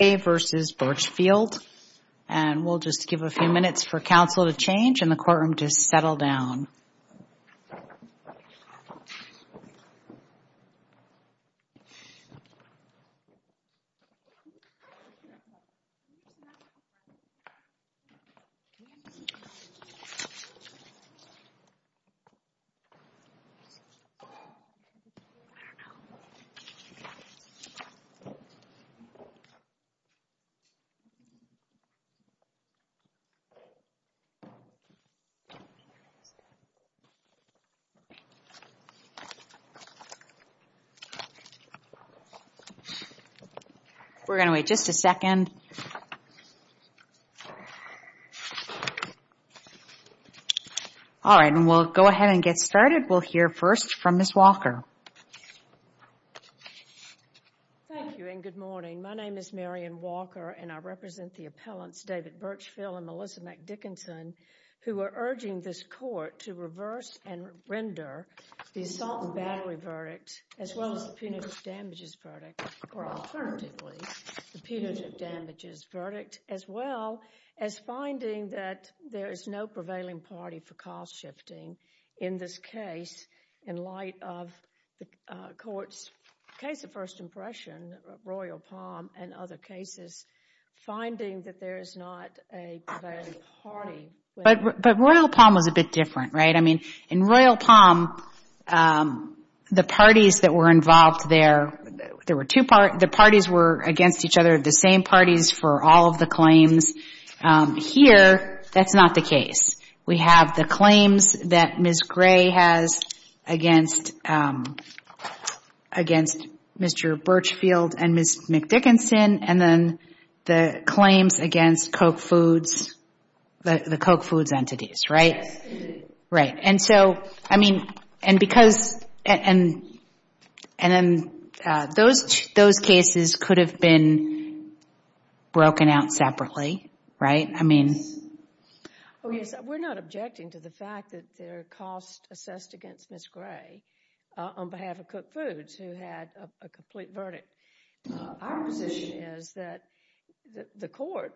vs. Birchfield. And we'll just give a few minutes for counsel to change and the courtroom to settle down. We're going to wait just a second. All right. And we'll go ahead and get started. We'll hear first from Ms. Walker. Thank you and good morning. My name is Marion Walker and I represent the appellants David Birchfield and Melissa McDickinson who are urging this court to reverse and render the assault and battery verdict as well as the punitive damages verdict, or alternatively, the punitive damages verdict, as well as finding that there is no prevailing party for cost shifting in this case in light of the court's case of first impression, Royal Palm, and other cases, finding that there is not a prevailing party. But Royal Palm was a bit different, right? I mean, in Royal Palm, the parties that were involved there, there were two parties, the parties were against each other, the same parties for all of the claims. Here, that's not the case. We have the claims that Ms. Gray has against Mr. Birchfield and Ms. McDickinson and then the claims against Coke Foods, the Coke Foods entities, right? Right, and so, I mean, and because, and then those cases could have been broken out separately, right? I mean... Oh yes, we're not objecting to the fact that there are costs assessed against Ms. Gray on behalf of Coke Foods who had a complete verdict. Our position is that the court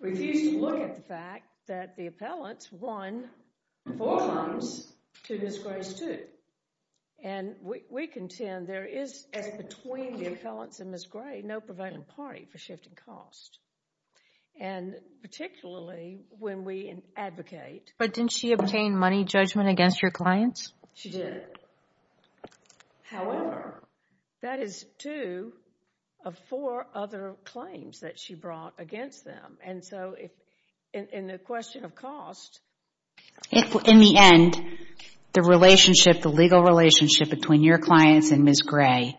refused to look at the fact that the appellants won four times to Ms. Gray's two. And we contend there is, as between the appellants and Ms. Gray, no prevailing party for shifting costs. And particularly when we advocate... But didn't she obtain money judgment against her clients? She did. However, that is two of four other claims that she brought against them. And so, in the question of cost... In the end, the relationship, the legal relationship between your clients and Ms. Gray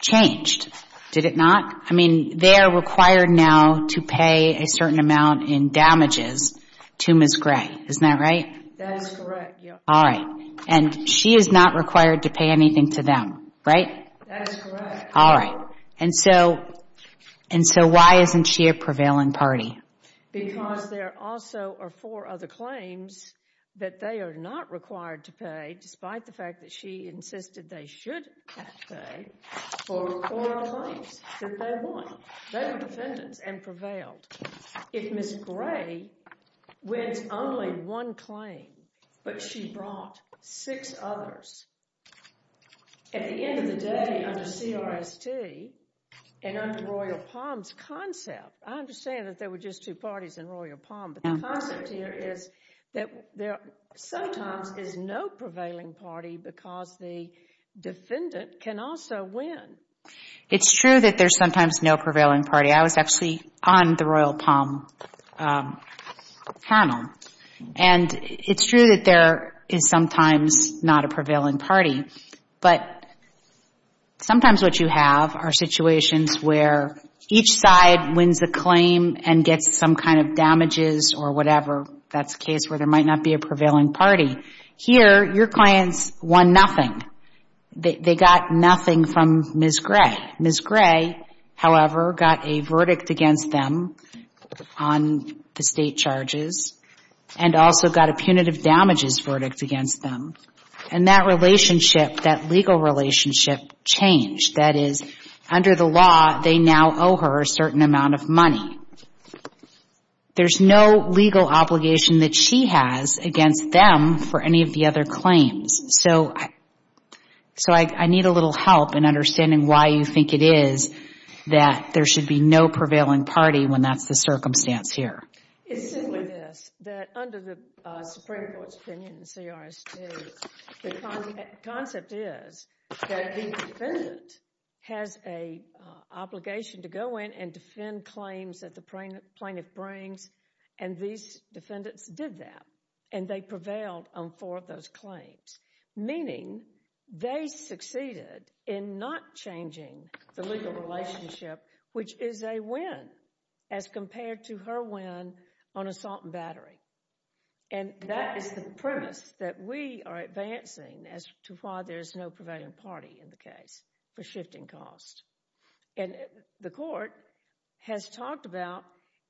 changed, did it not? I mean, they are required now to pay a certain amount in damages to Ms. Gray, isn't that right? That is correct, yes. All right. And she is not required to pay anything to them, right? That is correct. All right. And so, why isn't she a prevailing party? Because there also are four other claims that they are not required to pay, despite the fact that she insisted they should pay for four other claims that they won. They were defendants and prevailed. If Ms. Gray wins only one claim, but she brought six others, at the end of the day, under CRST and under Royal Palms' concept, I understand that there were just two parties in Royal Palm, but the concept here is that there sometimes is no prevailing party because the defendant can also win. It is true that there is sometimes no prevailing party. I was actually on the Royal Palm panel. And it is true that there is sometimes not a prevailing party. But sometimes what you have are situations where each side wins a claim and gets some kind of damages or whatever. That is a case where there might not be a prevailing party. Here, your clients won nothing. They got nothing from Ms. Gray. Ms. Gray, however, got a verdict against them on the state charges and also got a punitive damages verdict against them. And that relationship, that legal relationship, changed. That is, under the law, they now owe her a certain amount of money. There is no legal obligation that she has against them for any of the other claims. So I need a little help in understanding why you think it is that there should be no prevailing party when that is the circumstance here. It is simply this, that under the Supreme Court's opinion in CRST, the concept is that the defendant has an obligation to go in and defend claims that the plaintiff brings. And these defendants did that. And they prevailed on four of those claims, meaning they succeeded in not changing the legal relationship, which is a win as compared to her win on assault and battery. And that is the premise that we are advancing as to why there is no prevailing party in the case for shifting costs. And the court has talked about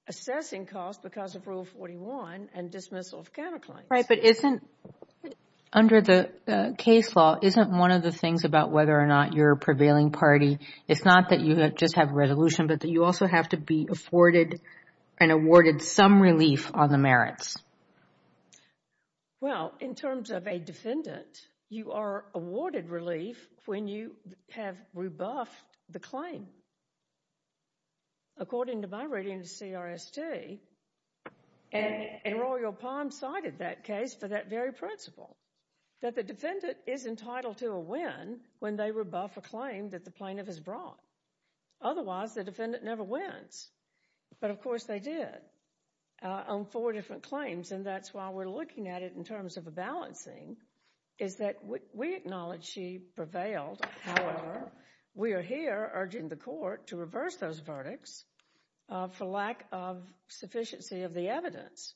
assessing costs because of Rule 41 and dismissal of counterclaims. Right, but isn't, under the case law, isn't one of the things about whether or not you're a prevailing party, it's not that you just have a resolution, but that you also have to be afforded and awarded some relief on the merits? Well, in terms of a defendant, you are awarded relief when you have rebuffed the claim. According to my reading of CRST, and Royal Palm cited that case for that very principle, that the defendant is entitled to a win when they rebuff a claim that the plaintiff has brought. Otherwise, the defendant never wins. But, of course, they did on four different claims. And that's why we're looking at it in terms of a balancing is that we acknowledge she prevailed. However, we are here urging the court to reverse those verdicts for lack of sufficiency of the evidence.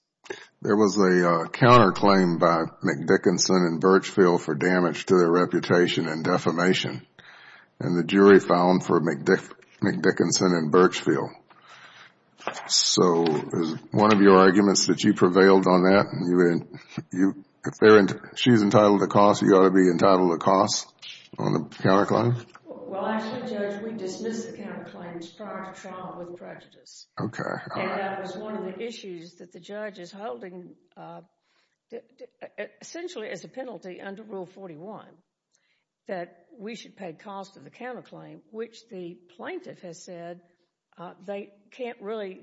There was a counterclaim by McDickinson and Birchfield for damage to their reputation and defamation. And the jury found for McDickinson and Birchfield. So, is one of your arguments that you prevailed on that? If she's entitled to cost, you ought to be entitled to cost on the counterclaim? Well, actually, Judge, we dismissed the counterclaims prior to trial with prejudice. Okay. And that was one of the issues that the judge is holding essentially as a penalty under Rule 41 that we should pay cost of the counterclaim, which the plaintiff has said they can't really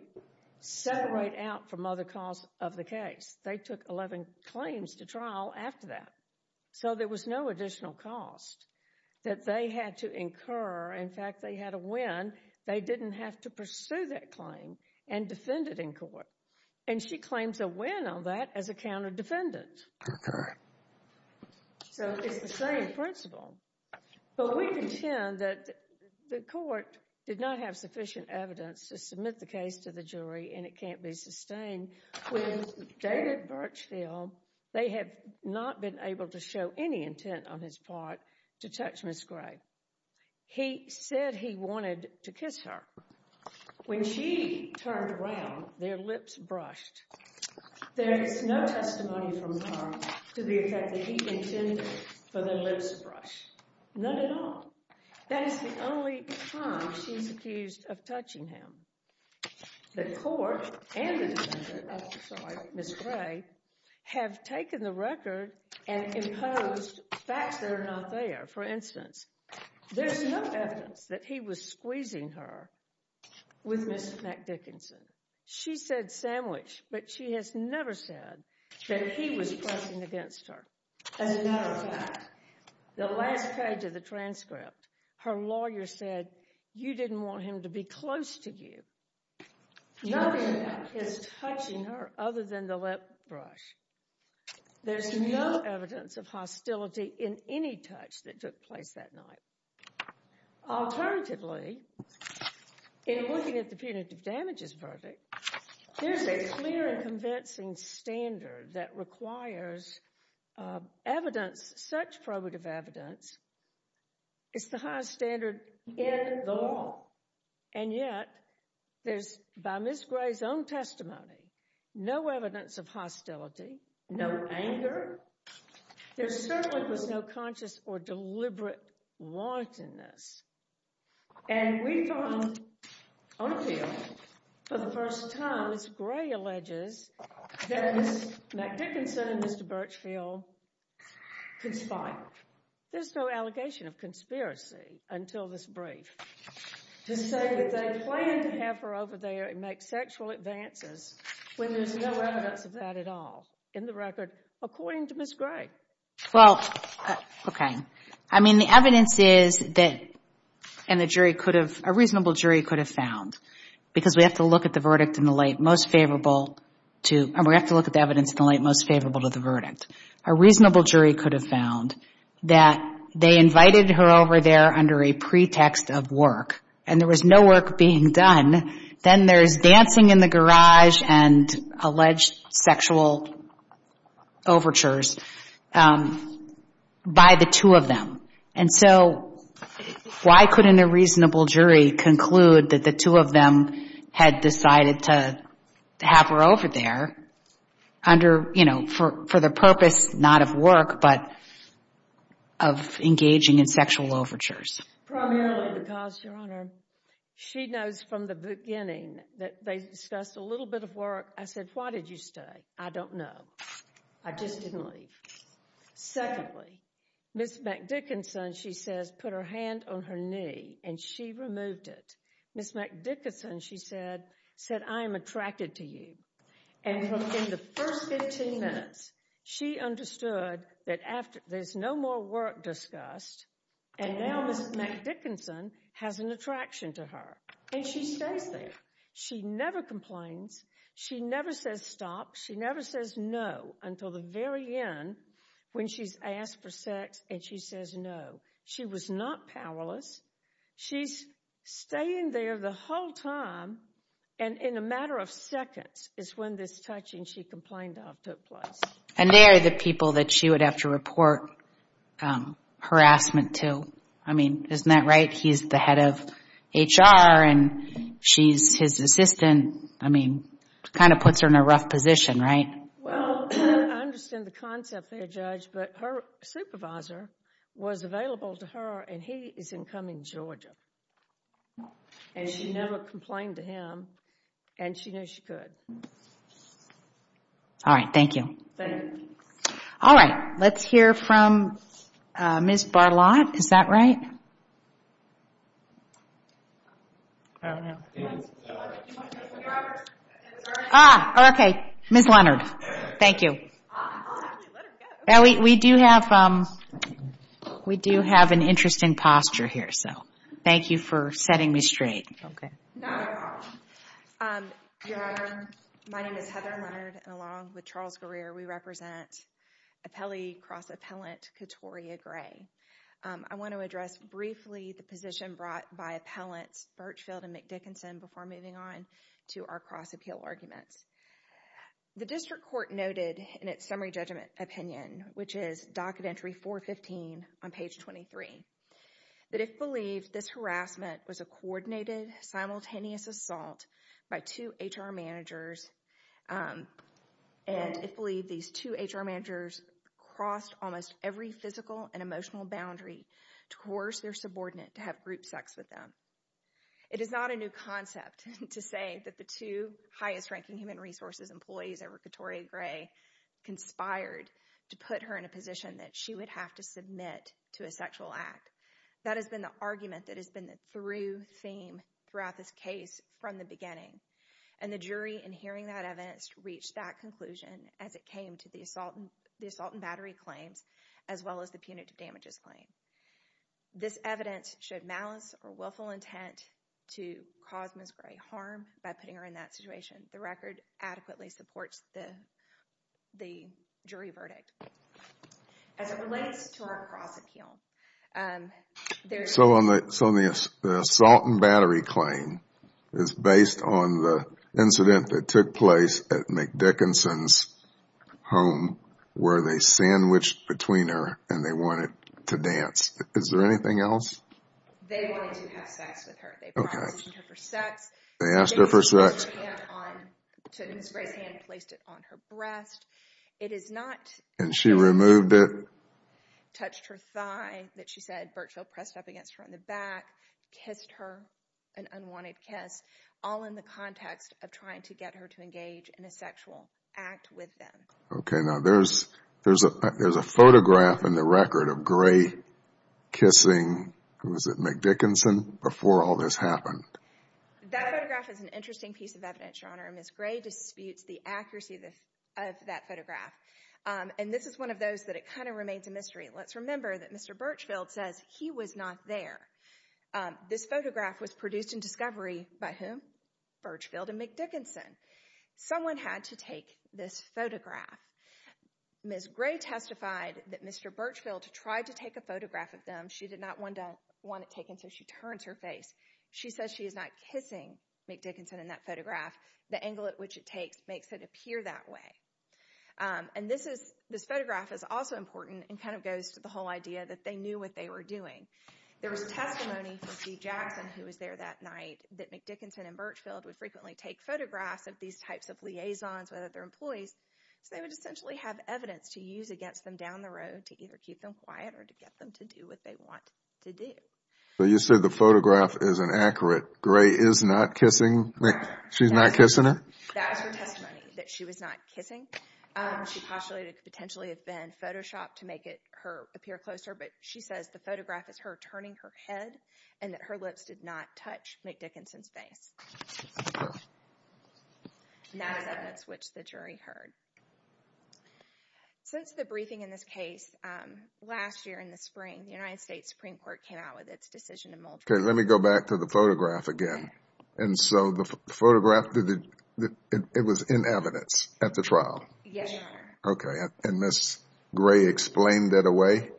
separate out from other costs of the case. They took 11 claims to trial after that. So, there was no additional cost that they had to incur. In fact, they had a win. They didn't have to pursue that claim and defend it in court. And she claims a win on that as a counter-defendant. Okay. So, it's the same principle. But we contend that the court did not have sufficient evidence to submit the case to the jury and it can't be sustained. With David Birchfield, they have not been able to show any intent on his part to touch Ms. Gray. He said he wanted to kiss her. When she turned around, their lips brushed. There is no testimony from her to the effect that he intended for the lips to brush. None at all. That is the only time she's accused of touching him. The court and Ms. Gray have taken the record and imposed facts that are not there. For instance, there's no evidence that he was squeezing her with Ms. Dickinson. She said sandwich, but she has never said that he was pressing against her. As a matter of fact, the last page of the transcript, her lawyer said you didn't want him to be close to you. Nothing is touching her other than the lip brush. There's no evidence of hostility in any touch that took place that night. Alternatively, in looking at the punitive damages verdict, there's a clear and convincing standard that requires evidence, such probative evidence. It's the highest standard in the law. And yet, there's, by Ms. Gray's own testimony, no evidence of hostility, no anger. There certainly was no conscious or deliberate wantonness. And we found, on appeal, for the first time, as Gray alleges, that Ms. Dickinson and Mr. Birchfield conspired. There's no allegation of conspiracy until this brief. To say that they planned to have her over there and make sexual advances when there's no evidence of that at all. In the record, according to Ms. Gray. Well, okay. I mean, the evidence is that, and the jury could have, a reasonable jury could have found, because we have to look at the verdict in the light most favorable to, and we have to look at the evidence in the light most favorable to the verdict. A reasonable jury could have found that they invited her over there under a pretext of work, and there was no work being done. Then there's dancing in the garage and alleged sexual overtures by the two of them. And so, why couldn't a reasonable jury conclude that the two of them had decided to have her over there under, you know, for the purpose not of work, but of engaging in sexual overtures? Primarily because, Your Honor, she knows from the beginning that they discussed a little bit of work. I said, why did you stay? I don't know. I just didn't leave. Secondly, Ms. MacDickinson, she says, put her hand on her knee, and she removed it. Ms. MacDickinson, she said, said, I am attracted to you. And in the first 15 minutes, she understood that there's no more work discussed, and now Ms. MacDickinson has an attraction to her, and she stays there. She never complains. She never says stop. She never says no until the very end when she's asked for sex, and she says no. She was not powerless. She's staying there the whole time, and in a matter of seconds is when this touching she complained of took place. And they are the people that she would have to report harassment to. I mean, isn't that right? He's the head of HR, and she's his assistant. I mean, it kind of puts her in a rough position, right? Well, I understand the concept there, Judge, but her supervisor was available to her, and he is in Cumming, Georgia, and she never complained to him, and she knew she could. All right. Thank you. All right. Let's hear from Ms. Barlott. Is that right? I don't know. Ah, okay. Ms. Leonard. Thank you. We do have an interesting posture here, so thank you for setting me straight. Okay. Your Honor, my name is Heather Leonard, and along with Charles Greer, we represent appellee, cross-appellant Katoria Gray. I want to address briefly the position brought by appellants Birchfield and McDickinson before moving on to our cross-appeal arguments. The district court noted in its summary judgment opinion, which is docket entry 415 on page 23, that it believed this harassment was a coordinated, simultaneous assault by two HR managers, and it believed these two HR managers crossed almost every physical and emotional boundary towards their subordinate to have group sex with them. It is not a new concept to say that the two highest-ranking human resources employees ever, Katoria Gray, conspired to put her in a position that she would have to submit to a sexual act. That has been the argument that has been the through theme throughout this case from the beginning, and the jury, in hearing that evidence, reached that conclusion as it came to the assault and battery claims, as well as the punitive damages claim. This evidence showed malice or willful intent to cause Ms. Gray harm by putting her in that situation. The record adequately supports the jury verdict. As it relates to our cross-appeal, there's... On the incident that took place at McDickinson's home, where they sandwiched between her and they wanted to dance, is there anything else? They wanted to have sex with her. Okay. They promised her for sex. They asked her for sex. They took Ms. Gray's hand and placed it on her breast. It is not... And she removed it? Touched her thigh, that she said, virtually pressed up against her on the back, kissed her, an unwanted kiss, all in the context of trying to get her to engage in a sexual act with them. Okay. Now, there's a photograph in the record of Gray kissing... Was it McDickinson? Before all this happened. That photograph is an interesting piece of evidence, Your Honor. Ms. Gray disputes the accuracy of that photograph. And this is one of those that it kind of remains a mystery. Let's remember that Mr. Birchfield says he was not there. This photograph was produced in discovery by whom? Birchfield and McDickinson. Someone had to take this photograph. Ms. Gray testified that Mr. Birchfield tried to take a photograph of them. She did not want it taken, so she turns her face. She says she is not kissing McDickinson in that photograph. The angle at which it takes makes it appear that way. And this photograph is also important and kind of goes to the whole idea that they knew what they were doing. There was testimony from Steve Jackson, who was there that night, that McDickinson and Birchfield would frequently take photographs of these types of liaisons with other employees, so they would essentially have evidence to use against them down the road to either keep them quiet or to get them to do what they want to do. So you said the photograph is inaccurate. Gray is not kissing Mc... She's not kissing him? That was her testimony, that she was not kissing. She postulated it could potentially have been Photoshopped to make it appear closer, but she says the photograph is her turning her head and that her lips did not touch McDickinson's face. And that is evidence which the jury heard. Since the briefing in this case, last year in the spring, the United States Supreme Court came out with its decision to... Okay, let me go back to the photograph again. And so the photograph, it was in evidence at the trial? Yes, Your Honor. Okay, and Ms. Gray explained it away?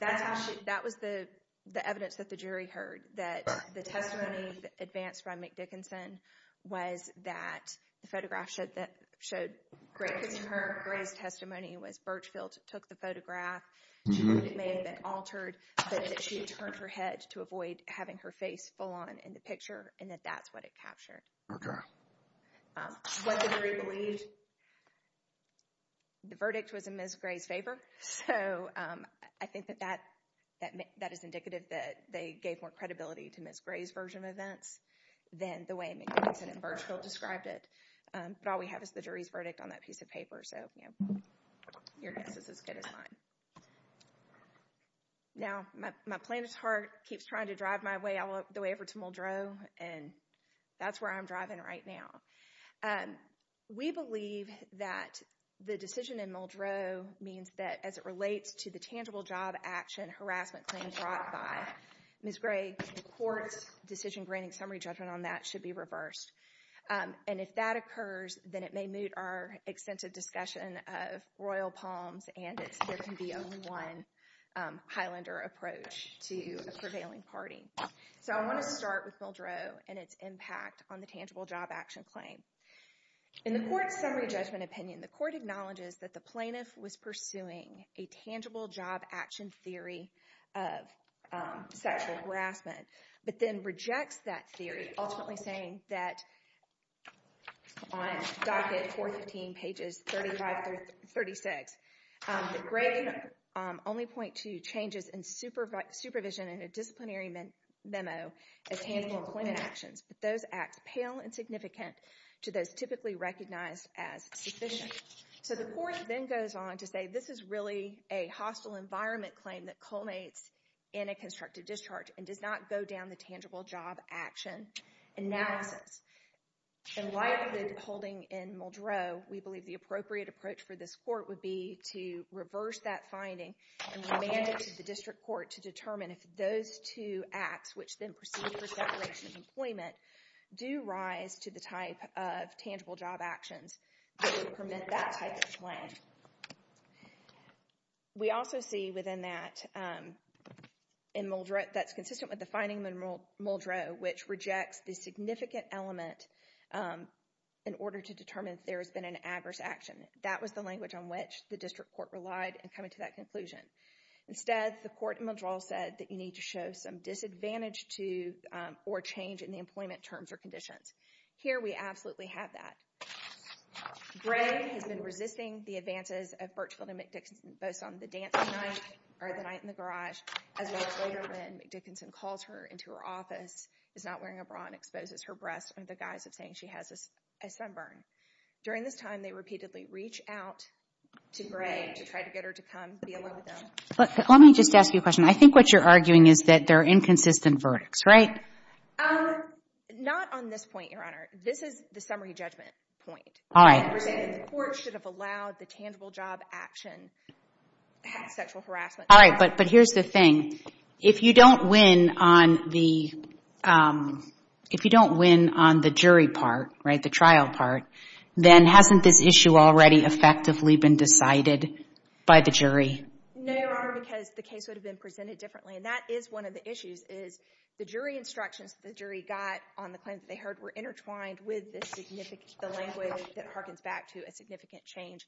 That was the evidence that the jury heard, that the testimony advanced by McDickinson was that the photograph showed... Gray's testimony was Birchfield took the photograph, she may have been altered, but that she turned her head to avoid having her face full on in the picture and that that's what it captured. What did the jury believe? The verdict was in Ms. Gray's favor, so I think that that is indicative that they gave more credibility to Ms. Gray's version of events than the way McDickinson and Birchfield described it. But all we have is the jury's verdict on that piece of paper, so your guess is as good as mine. Now, my planet's heart keeps trying to drive my way all the way over to Muldrow, and that's where I'm driving right now. We believe that the decision in Muldrow means that as it relates to the tangible job action harassment claims brought by Ms. Gray, the court's decision granting summary judgment on that should be reversed. And if that occurs, then it may moot our extensive discussion of Royal Palms and there can be a one Highlander approach to a prevailing party. So I want to start with Muldrow and its impact on the tangible job action claim. In the court's summary judgment opinion, the court acknowledges that the plaintiff was pursuing a tangible job action theory of sexual harassment, but then rejects that theory, ultimately saying that on docket 415, pages 35 through 36, that Gray can only point to changes in supervision in a disciplinary memo as tangible employment actions, but those act pale and significant to those typically recognized as sufficient. So the court then goes on to say this is really a hostile environment claim that culminates in a constructive discharge and does not go down the tangible job action analysis. And like the holding in Muldrow, we believe the appropriate approach for this court would be to reverse that finding and remand it to the district court to determine if those two acts, which then proceed for separation of employment, do rise to the type of tangible job actions that would permit that type of claim. We also see within that in Muldrow that's consistent with the finding in Muldrow, which rejects the significant element in order to determine if there has been an adverse action. That was the language on which the district court relied in coming to that conclusion. Instead, the court in Muldrow said that you need to show some disadvantage to or change in the employment terms or conditions. Here we absolutely have that. Gray has been resisting the advances of Burchville and McDickinson, both on the dancing night or the night in the garage, as well as later when McDickinson calls her into her office, is not wearing a bra and exposes her breasts under the guise of saying she has a sunburn. During this time, they repeatedly reach out to Gray to try to get her to come be alone with them. Let me just ask you a question. I think what you're arguing is that they're inconsistent verdicts, right? Not on this point, Your Honor. This is the summary judgment point. All right. The court should have allowed the tangible job action, sexual harassment. All right, but here's the thing. If you don't win on the jury part, right, the trial part, then hasn't this issue already effectively been decided by the jury? No, Your Honor, because the case would have been presented differently, and that is one of the issues is the jury instructions that the jury got on the claim that they heard were intertwined with the language that harkens back to a significant change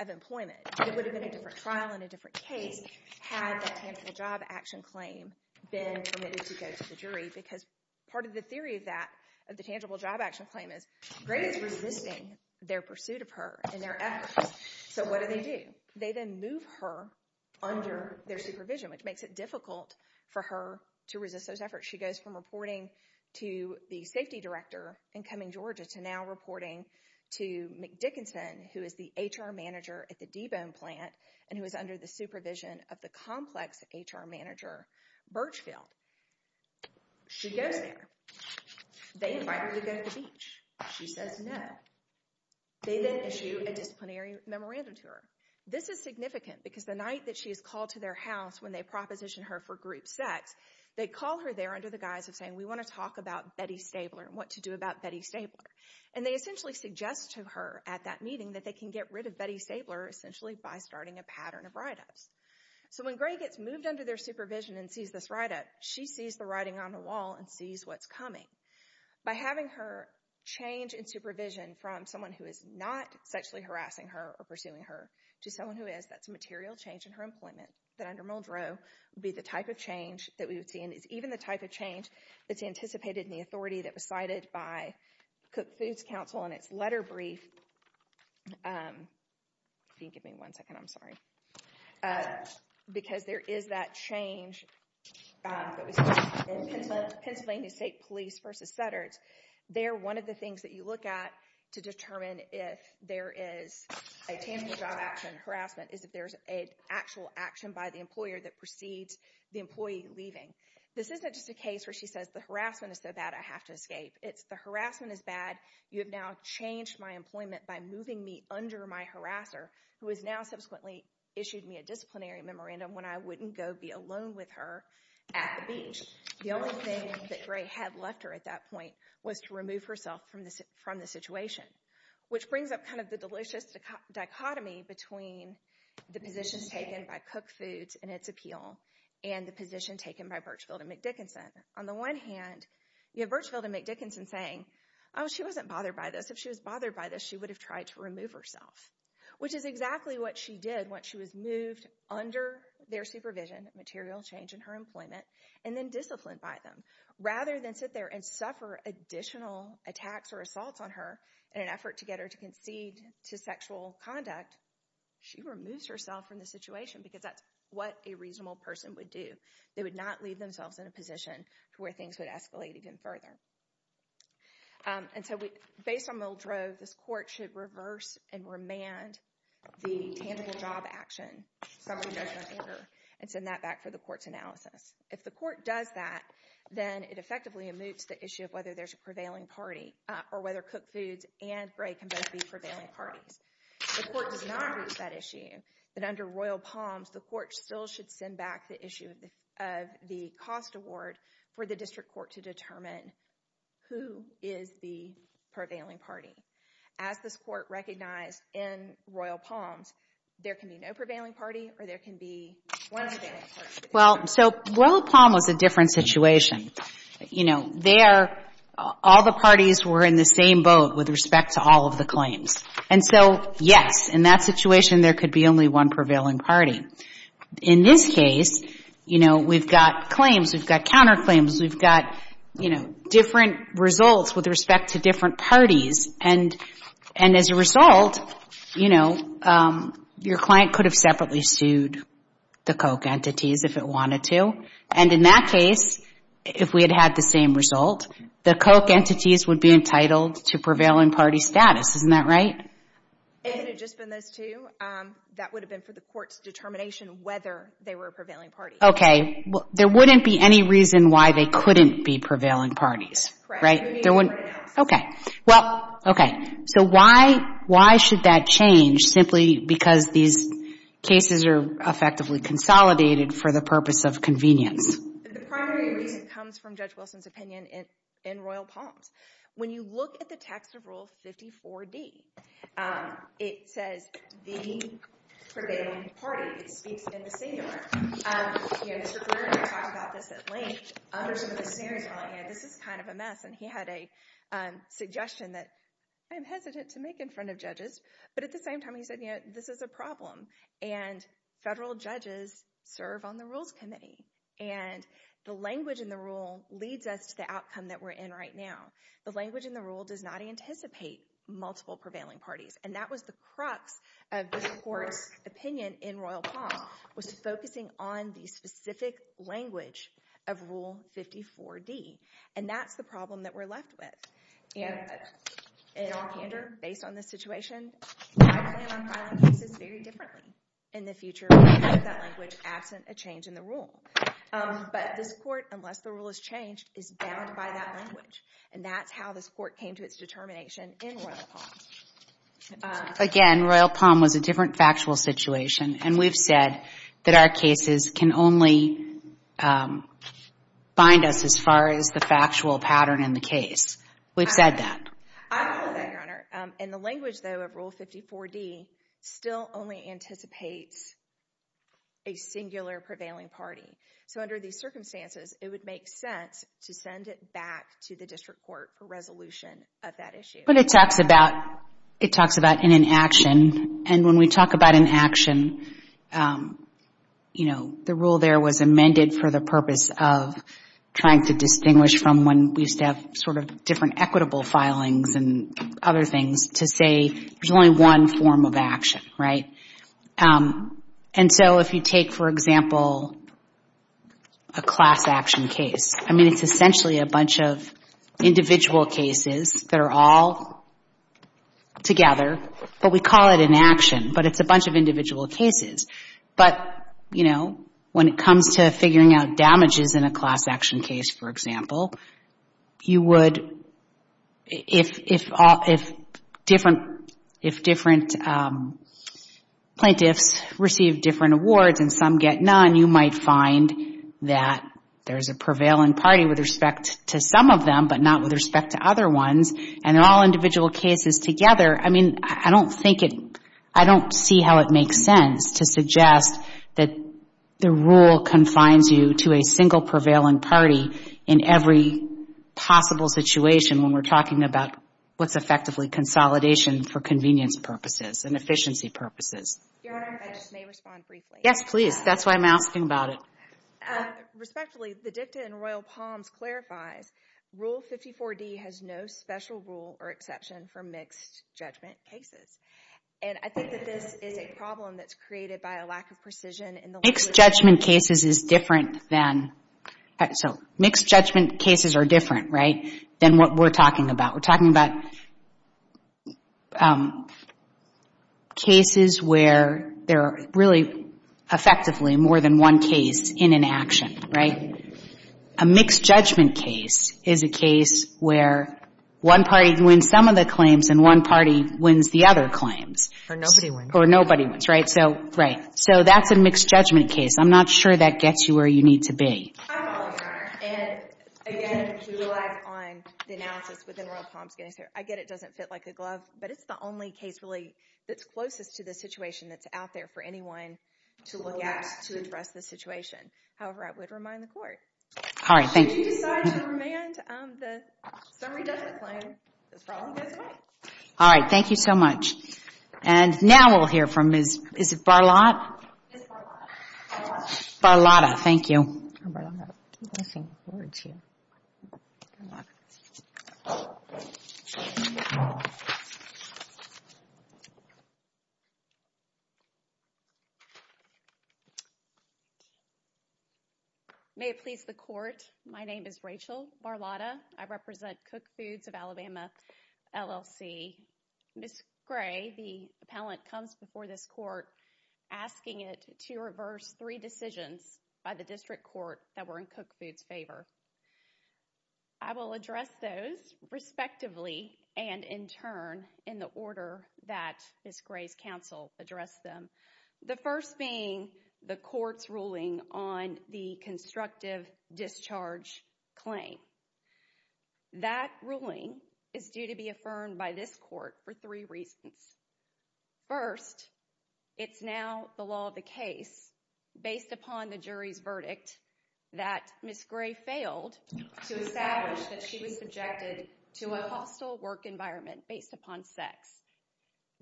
of employment. It would have been a different trial and a different case had that tangible job action claim been permitted to go to the jury because part of the theory of that, of the tangible job action claim, is Gray is resisting their pursuit of her and their efforts. So what do they do? They then move her under their supervision, which makes it difficult for her to resist those efforts. She goes from reporting to the safety director in Cumming, Georgia, to now reporting to Dickinson, who is the HR manager at the D-Bone plant and who is under the supervision of the complex HR manager, Birchfield. She goes there. They invite her to go to the beach. She says no. They then issue a disciplinary memorandum to her. This is significant because the night that she is called to their house when they proposition her for group sex, they call her there under the guise of saying, we want to talk about Betty Stabler and what to do about Betty Stabler. And they essentially suggest to her at that meeting that they can get rid of Betty Stabler essentially by starting a pattern of write-ups. So when Gray gets moved under their supervision and sees this write-up, she sees the writing on the wall and sees what's coming. By having her change in supervision from someone who is not sexually harassing her or pursuing her to someone who is, that's a material change in her employment that under Muldrow would be the type of change that we would see. And it's even the type of change that's anticipated in the authority that was cited by Cook Foods Council in its letter brief. If you can give me one second, I'm sorry. Because there is that change that was cited in Pennsylvania State Police v. Sutter. They're one of the things that you look at to determine if there is a tangible job action harassment is if there's an actual action by the employer that precedes the employee leaving. This isn't just a case where she says the harassment is so bad I have to escape. It's the harassment is bad, you have now changed my employment by moving me under my harasser who has now subsequently issued me a disciplinary memorandum when I wouldn't go be alone with her at the beach. The only thing that Gray had left her at that point was to remove herself from the situation. Which brings up the delicious dichotomy between the positions taken by Cook Foods and its appeal and the position taken by Birchfield and McDickinson. On the one hand, you have Birchfield and McDickinson saying she wasn't bothered by this, if she was bothered by this she would have tried to remove herself. Which is exactly what she did once she was moved under their supervision material change in her employment and then disciplined by them. Rather than sit there and suffer additional attacks or assaults on her in an effort to get her to concede to sexual conduct she removes herself from the situation because that's what a reasonable person would do. They would not leave themselves in a position where things would escalate even further. Based on Muldrow, this court should reverse and remand the tangible job action and send that back for the court's analysis. If the court does that, then it effectively moots the issue of whether there's a prevailing party or whether Cook Foods and Gray can both be prevailing parties. If the court does not moot that issue, then under Royal Palms the court still should send back the issue of the cost award for the district court to determine who is the prevailing party. As this court recognized in Royal Palms there can be no prevailing party or there can be one prevailing party. Royal Palms was a different situation. All the parties were in the same boat with respect to all of the claims. And so, yes, in that situation there could be only one prevailing party. In this case, we've got claims, we've got counterclaims, we've got different results with respect to different parties. And as a result, your client could have separately sued the Coke entities if it wanted to. And in that case, if we had had the same result, the Coke entities would be entitled to prevailing party status. Isn't that right? That would have been for the court's determination whether they were a prevailing party. There wouldn't be any reason why they couldn't be prevailing parties. Correct. So why should that change simply because these cases are effectively consolidated for the purpose of convenience? The primary reason comes from Judge Wilson's opinion in Royal Palms. When you look at the text of Rule 54D, it says the prevailing party. It speaks in the singular. Mr. Brewer and I talked about this at length under some of the scenarios. This is kind of a mess. And he had a suggestion that I'm hesitant to make in front of judges. But at the same time, he said this is a problem. And federal judges serve on the Rules Committee. And the language in the rule leads us to the outcome that we're in right now. The language in the rule does not anticipate multiple prevailing parties. And that was the crux of this court's opinion in Royal Palms was focusing on the specific language of Rule 54D. And that's the problem that we're left with. Again, in all candor, based on this situation, my plan on filing cases very differently in the future would be to have that language absent a change in the rule. But this court, unless the rule is changed, is bound by that language. And that's how this court came to its determination in Royal Palms. Again, Royal Palms was a different factual situation. And we've said that our cases can only bind us as far as the factual pattern in the case. We've said that. I've said that, Your Honor. And the language, though, of Rule 54D still only anticipates a singular prevailing party. So under these circumstances, it would make sense to send it back to the district court for resolution of that issue. But it talks about an inaction. And when we talk about inaction, you know, the rule there was amended for the purpose of trying to distinguish from when we used to have sort of different equitable filings and other things to say there's only one form of action. Right? And so if you take, for example, a class action case, I mean, it's essentially a bunch of individual cases that are all together, but we call it inaction. But it's a bunch of individual cases. But, you know, when it comes to figuring out damages in a class action case, for example, you would, if different plaintiffs receive different awards and some get none, you might find that there's a prevailing party with respect to some of them, but not with respect to other ones. And all individual cases together, I mean, I don't see how it makes sense to suggest that the rule confines you to a single prevailing party in every possible situation when we're talking about what's effectively consolidation for convenience purposes and efficiency purposes. Yes, please. That's why I'm asking about it. Respectfully, the dicta in Royal Palms clarifies Rule 54D has no special rule or exception for mixed judgment cases. And I think that this is a problem that's created by a lack of precision in the... Mixed judgment cases is different than, so mixed judgment cases are different, right, than what we're talking about. We're talking about cases where there are really effectively more than one case in inaction, right? A mixed judgment case is a case where one party wins some of the claims and one party wins the other claims. Or nobody wins. Or nobody wins, right? So, right. So that's a mixed judgment case. I'm not sure that gets you where you need to be. I'm all in, Your Honor. And again, if you relax on the analysis within Royal Palms, I get it doesn't fit like a glove, but it's the only case really that's closest to the situation that's out there for anyone to look at to address the situation. However, I would remind the Court. If you decide to remand the summary judgment claim, this problem goes away. Alright, thank you so much. And now we'll hear from Ms. Barlotta. Barlotta, thank you. May it please the Court, my name is Rachel Barlotta. I represent Cook Foods of Alabama, LLC. Ms. Gray, the appellant, comes before this Court asking it to reverse three decisions by the District Court that were in Cook Foods' favor. I will address those respectively and in turn in the order that Ms. Gray's counsel addressed them. The first being the Court's ruling on the constructive discharge claim. That ruling is due to be affirmed by this Court for three reasons. First, it's now the law of the case based upon the jury's verdict that Ms. Gray failed to establish that she was subjected to a hostile work environment based upon sex.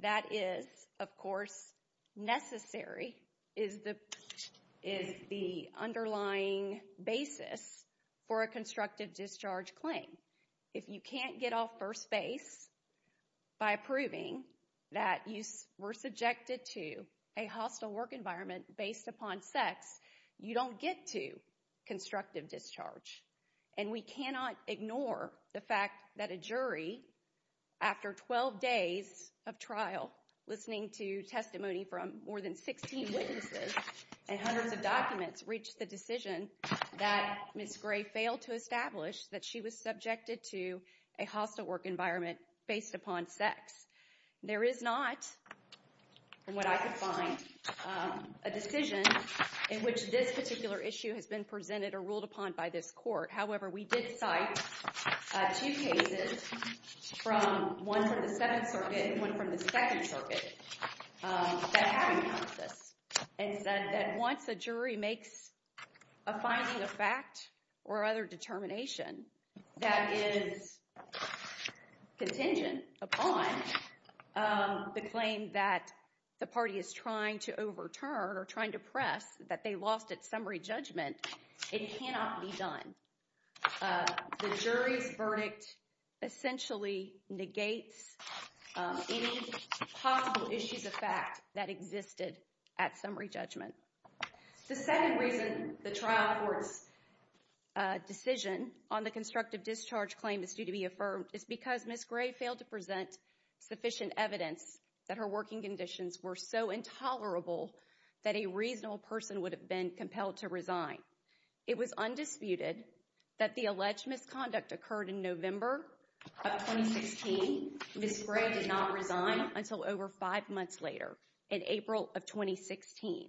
That is, of course, necessary, is the underlying basis for a constructive discharge claim. If you can't get off first base by proving that you were subjected to a hostile work environment based upon sex, you don't get to constructive discharge. And we cannot ignore the fact that the jury, after 12 days of trial, listening to testimony from more than 16 witnesses and hundreds of documents, reached the decision that Ms. Gray failed to establish that she was subjected to a hostile work environment based upon sex. There is not, from what I could find, a decision in which this particular issue has been presented or ruled upon by this Court. However, we did cite two cases from, one from the Seventh Circuit and one from the Second Circuit, that have encompassed this and said that once a jury makes a finding of fact or other determination that is contingent upon the claim that the party is trying to overturn or trying to press that they lost at summary judgment, it cannot be done. The jury's verdict essentially negates any possible issues of fact that existed at summary judgment. The second reason the trial court's decision on the constructive discharge claim is due to be affirmed is because Ms. Gray failed to present sufficient evidence that her working conditions were so intolerable that a reasonable person would have been compelled to resign. It was undisputed that the alleged misconduct occurred in November of 2016. Ms. Gray did not resign until over five months later in April of 2016.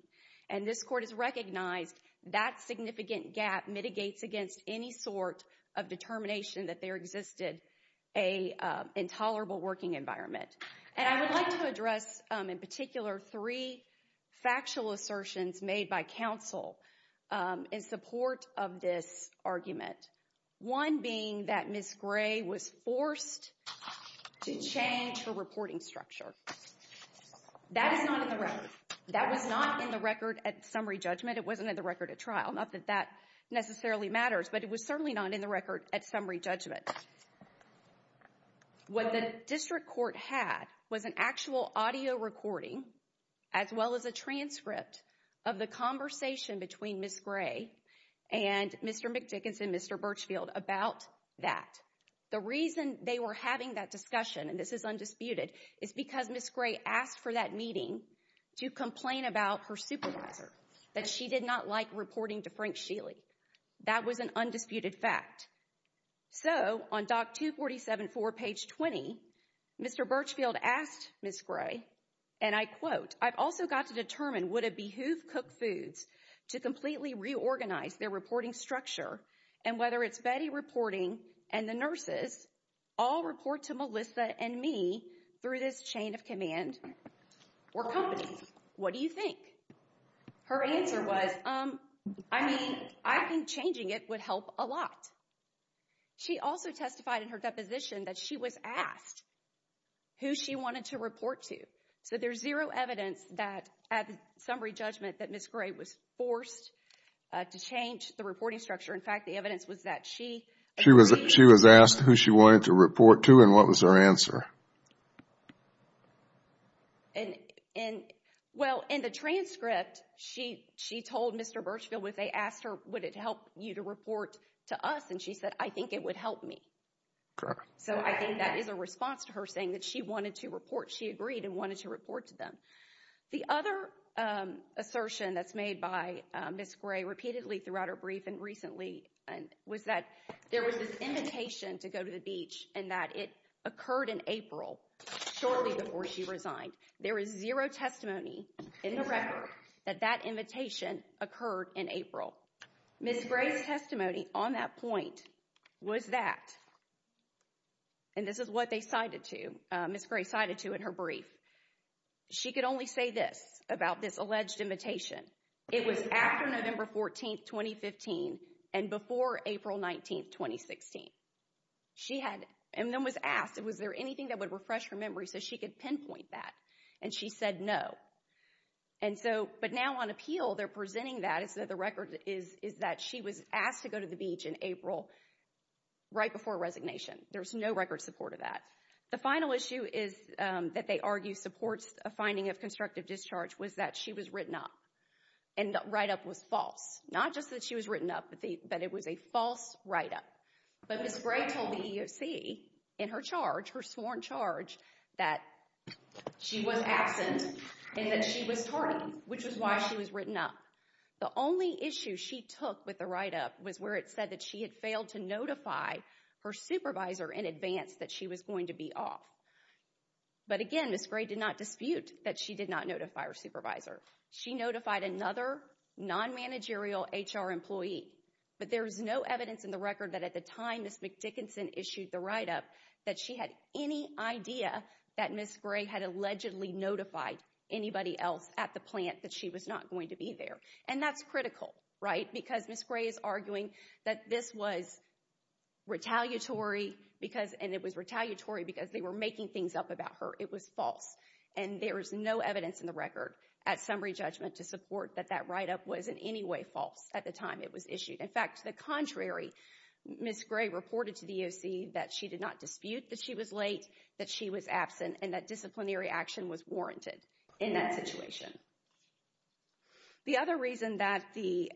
And this Court has recognized that significant gap mitigates against any sort of determination that there existed an intolerable working environment. And I would like to address in particular three factual assertions made by counsel in support of this argument. One being that Ms. Gray was forced to change her reporting structure. That is not in the record. That was not in the record at summary judgment. It wasn't in the record at trial. Not that that necessarily matters, but it was certainly not in the record at summary judgment. What the district court had was an actual audio recording as well as a transcript of the conversation between Ms. Gray and Mr. McDickens and Mr. Birchfield about that. The reason they were having that discussion, and this is undisputed, is because Ms. Gray asked for that meeting to complain about her supervisor, that she did not like reporting to Frank Sheely. That was an undisputed fact. So on Doc 247.4 page 20, Mr. Birchfield asked Ms. Gray, and I quote, I've also got to determine would it behoove Cook Foods to completely reorganize their reporting structure and whether it's Betty reporting and the nurses all report to Melissa and me through this chain of command or companies. What do you think? Her answer was, I mean, I think changing it would help a lot. She also testified in her deposition that she was asked who she wanted to report to. So there's zero evidence that at summary judgment that Ms. Gray was forced to change the reporting structure. In fact, the evidence was that she. She was asked who she wanted to report to and what was her answer? And well, in the transcript, she she told Mr. Birchfield with a asked her, would it help you to report to us? And she said, I think it would help me. So I think that is a response to her saying that she wanted to report. She agreed and wanted to report to them. The other assertion that's made by Ms. Gray repeatedly throughout her brief and recently and was that there was an invitation to go to the beach and that it occurred in April shortly before she resigned. There is zero testimony in the record that that invitation occurred in April. Ms. Gray's testimony on that point was that. And this is what they cited to Ms. Gray cited to in her brief. She could only say this about this alleged invitation. It was after November 14th, 2015 and before April 19th, 2016. She had and then was asked, was there anything that would refresh her memory so she could pinpoint that? And she said no. And so but now on appeal, they're presenting that is that the record is is that she was asked to go to the beach in April. Right before resignation, there's no record support of that. The final issue is that they argue supports a finding of constructive discharge was that she was written up and write up was false. Not just that she was written up, but that it was a false write up. But Ms. Gray told the EEOC in her charge, her sworn charge, that she was absent and that she was tardy, which is why she was written up. The only issue she took with the write up was where it said that she had failed to notify her supervisor in advance that she was going to be off. But again, Ms. Gray did not dispute that she did not notify her supervisor. She notified another non-managerial HR employee. But there is no evidence in the record that at the time Ms. Dickinson issued the write up that she had any idea that Ms. Gray had allegedly notified anybody else at the plant that she was not going to be there. And that's critical, right? Because Ms. Gray is arguing that this was retaliatory because and it was retaliatory because they were making things up about her. It was false. And there is no evidence in the record at summary judgment to support that that write up was in any way false at the time it was issued. In fact, to the contrary, Ms. Gray reported to the EEOC that she did not dispute that she was late, that she was absent, and that disciplinary action was warranted in that situation. The other reason that the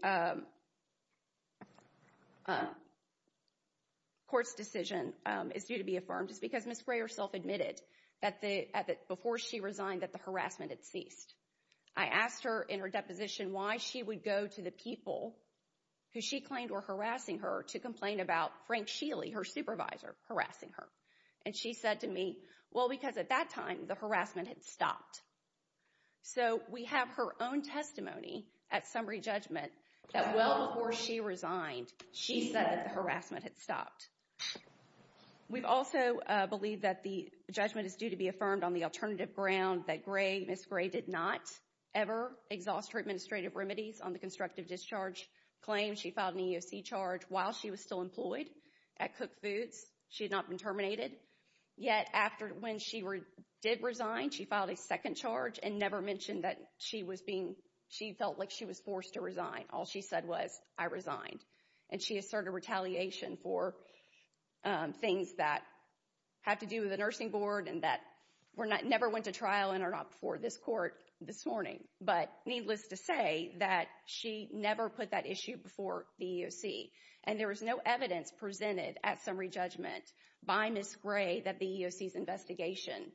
court's decision is due to be affirmed is because Ms. Gray herself admitted that before she resigned that the harassment had ceased. I asked her in her deposition why she would go to the people who she claimed were harassing her to complain about Frank Sheely, her supervisor, harassing her. And she said to me, well, because at that time the harassment had stopped. So we have her own testimony at summary judgment that well before she resigned, she said that the harassment had stopped. We also believe that the judgment is due to be affirmed on the alternative ground that Ms. Gray did not ever exhaust her administrative remedies on the constructive discharge claim. She filed an EEOC charge while she was still employed at Cook Foods. She had not been terminated. Yet after when she did resign, she filed a second charge and never mentioned that she felt like she was forced to resign. All she said was, I resigned. And she pointed out things that had to do with the nursing board and that never went to trial before this court this morning. But needless to say that she never put that issue before the EEROC and there was no evidence presented at summary judgment by Ms. Gray that the EEOC's investigation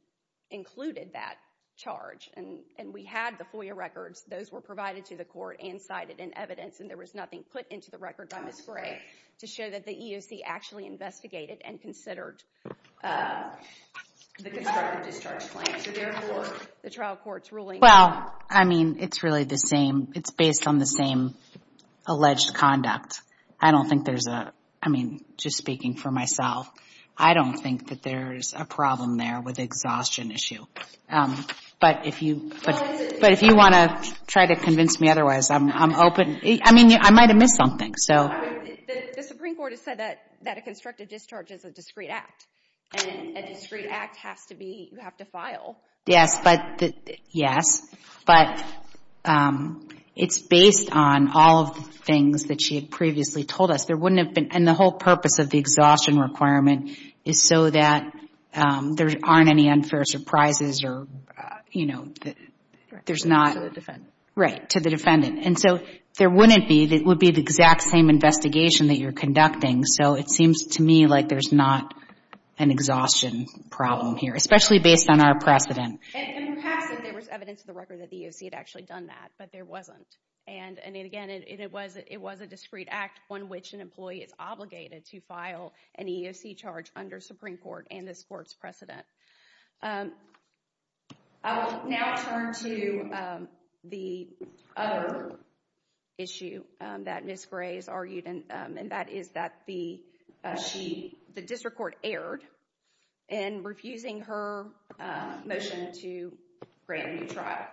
included that charge. And we had the FOIA records. Those were provided to the Court and cited in evidence and there was nothing put into the EEOC actually investigated and considered the constructive discharge claim. So therefore, the trial court's ruling... Well, I mean, it's really the same. It's based on the same alleged conduct. I don't think there's a... I mean, just speaking for myself, I don't think that there's a problem there with the exhaustion issue. But if you want to try to convince me otherwise, I'm open. I mean, I might have missed something. The Supreme Court has said that a constructive discharge is a discrete act. And a discrete act has to be... you have to file. Yes, but... It's based on all of the things that she had previously told us. And the whole purpose of the exhaustion requirement is so that there aren't any unfair surprises or, you know... To the defendant. And so there wouldn't be. It would be the exact same investigation that you're conducting. So it seems to me like there's not an exhaustion problem here, especially based on our precedent. And perhaps there was evidence in the record that the EEOC had actually done that, but there wasn't. And again, it was a discrete act, one which an employee is obligated to file an EEOC charge under Supreme Court and this Court's precedent. I will now turn to the other issue that Ms. Gray has argued, and that is that the District Court erred in refusing her motion to grant a new trial.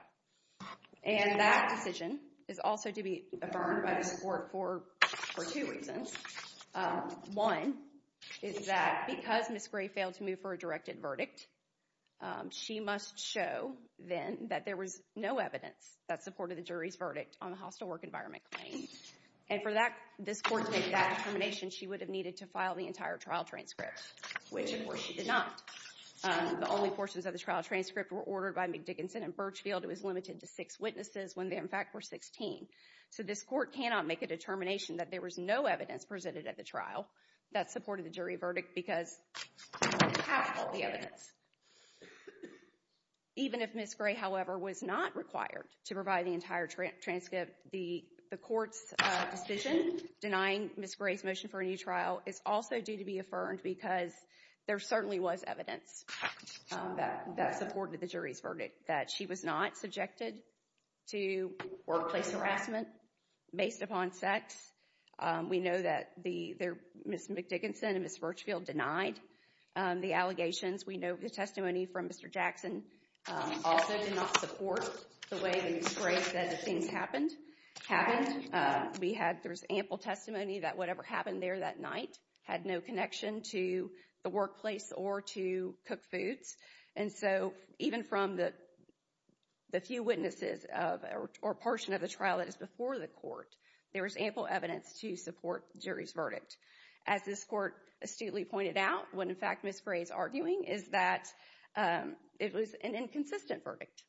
And that decision is also to be affirmed by this Court for two reasons. One is that because Ms. Gray failed to move for a directed verdict, she must show, then, that there was no evidence that supported the jury's verdict on the hostile work environment claim. And for this Court to make that determination, she would have needed to file the entire trial transcript, which, of course, she did not. The only portions of the trial transcript were ordered by McDickinson and Birchfield. It was limited to six witnesses when they, in fact, were 16. So this Court cannot make a determination that there was no evidence presented at the trial that supported the jury verdict because we don't have all the evidence. Even if Ms. Gray, however, was not required to provide the entire transcript, the Court's decision denying Ms. Gray's motion for a new trial is also due to be affirmed because there certainly was evidence that supported the jury's verdict, that she was not subjected to workplace harassment based upon sex. We know that Ms. McDickinson and Ms. Birchfield denied the allegations. We know the testimony from Mr. Jackson also did not support the way that Ms. Gray said that things happened. There was ample testimony that whatever happened there that night had no connection to the workplace or to cooked foods. And so, even from the few witnesses or portion of the trial that is before the Court, there was ample evidence to support the jury's verdict. As this Court astutely pointed out, what, in fact, Ms. Gray is arguing is that it was an inconsistent verdict.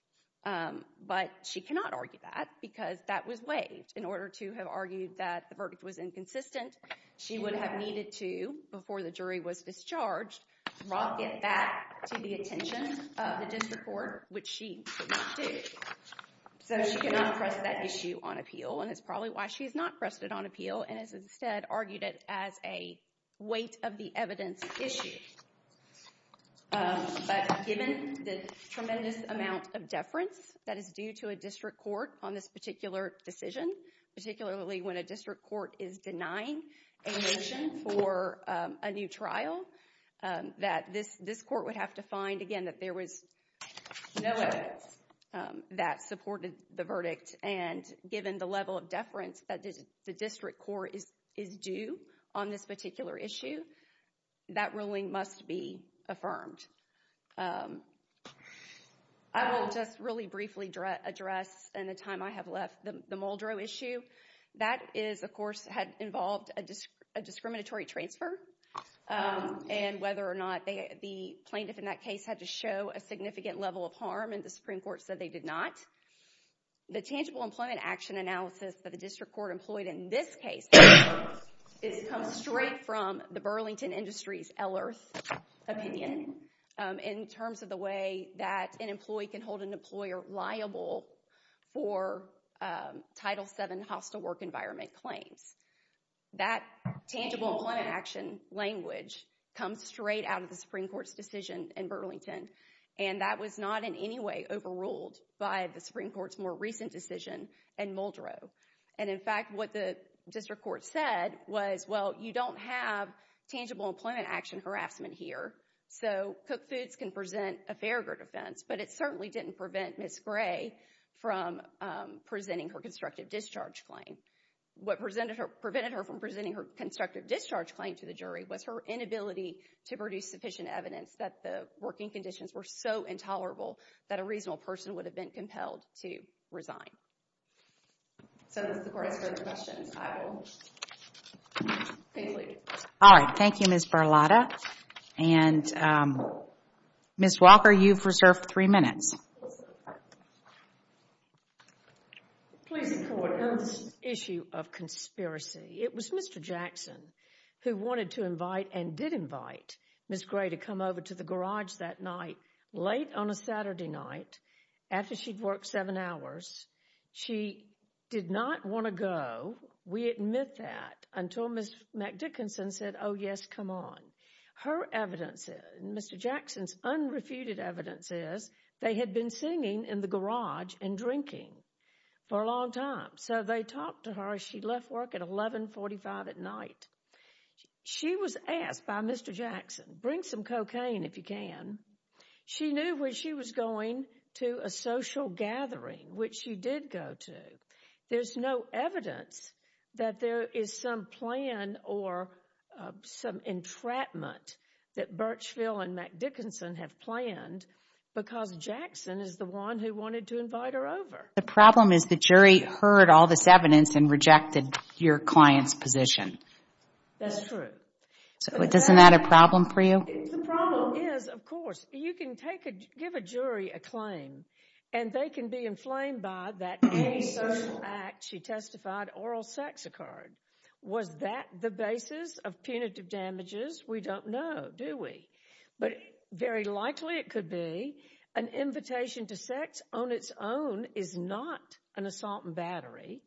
But she cannot argue that because that was waived. In order to have argued that the verdict was inconsistent, she would have needed to, before the jury was discharged, drop it back to the attention of the District Court, which she did not do. So she could not press that issue on appeal. And it's probably why she's not pressed it on appeal and has instead argued it as a weight of the evidence issue. But given the tremendous amount of deference that is due to a District Court on this particular decision, particularly when a District Court is denying a motion for a new trial, that this Court would have to find, again, that there was no evidence that supported the verdict. And given the level of deference that the District Court is due on this particular issue, that ruling must be affirmed. I will just really briefly address, in the time I have left, the Muldrow issue. That, of course, had involved a discriminatory transfer. And whether or not the plaintiff in that case had to show a significant level of harm, and the Supreme Court said they did not. The tangible employment action analysis that the District Court employed in this case comes straight from the Burlington Industries, Eller's opinion, in terms of the way that an employee can hold an employer liable for Title VII hostile work environment claims. That tangible employment action language comes straight out of the Supreme Court's decision in Burlington. And that was not, in any way, overruled by the Supreme Court's more recent decision in Muldrow. And, in fact, what the District Court said was, well, you don't have tangible employment action harassment here, so Cook Foods can present a fair group defense, but it certainly didn't prevent Ms. Gray from presenting her constructive discharge claim. What prevented her from presenting her constructive discharge claim to the jury was her inability to produce sufficient evidence that the working conditions were so intolerable that a reasonable person would have been compelled to resign. So, as the Court has further questions, I will conclude. All right. Thank you, Ms. Barlotta. And, Ms. Walker, you've reserved three minutes. Please, Court. On this issue of conspiracy, it was Mr. Jackson who wanted to invite and did invite Ms. Gray to come over to the garage that night late on a Saturday night after she'd worked seven hours. She did not want to go. We admit that until Ms. McDickinson said, oh, yes, come on. Her evidence, Mr. Jackson's unrefuted evidence is they had been singing in the garage and drinking for a long time. So they talked to her as she left work at 1145 at night. She was asked by Mr. Jackson, bring some cocaine if you can. She knew where she was going to a social gathering, which she did go to. There's no evidence that there is some plan or some entrapment that Birchville and McDickinson have planned because Jackson is the one who wanted to invite her over. The problem is the jury heard all this evidence and rejected your client's position. That's true. So isn't that a problem for you? The problem is, of course, you can give a jury a claim, and they can be inflamed by that gay social act that she testified oral sex occurred. Was that the basis of punitive damages? We don't know, do we? But very likely it could be an invitation to sex on its own is not an assault and battery.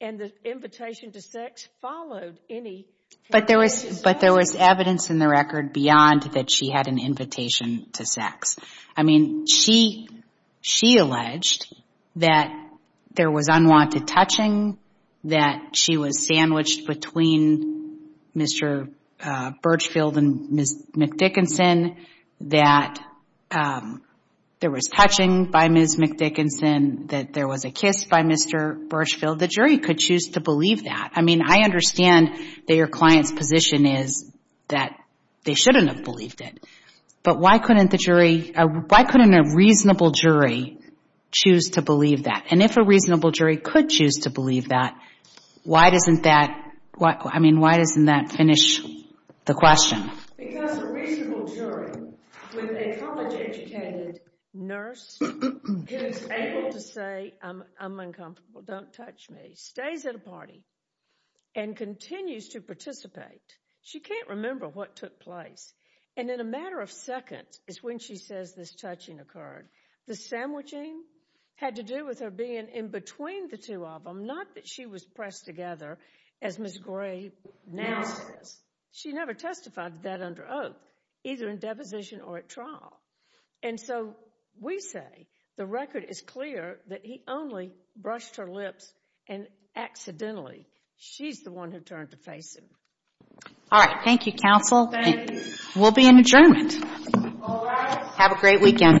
And the invitation to sex followed any... But there was evidence in the record beyond that she had an invitation to sex. I mean, she alleged that there was unwanted touching, that she was sandwiched between Mr. Birchville and Ms. McDickinson, that there was touching by Ms. McDickinson, that there was a kiss by Mr. Birchville. The jury could choose to believe that. I mean, I understand that your client's position is that they shouldn't have believed it. But why couldn't the jury... Why couldn't a reasonable jury choose to believe that? And if a reasonable jury could choose to believe that, why doesn't that finish the question? Because a reasonable jury with a college-educated nurse is able to say, I'm uncomfortable, don't touch me, stays at a party and continues to participate. She can't remember what took place. And in a matter of seconds is when she says this touching occurred. The sandwiching had to do with her being in between the two of them, not that she was pressed together as Ms. Gray now says. She never testified that under oath, either in deposition or at trial. And so we say the record is clear that he only brushed her lips and accidentally, she's the one who turned to face him. Thank you. All rise.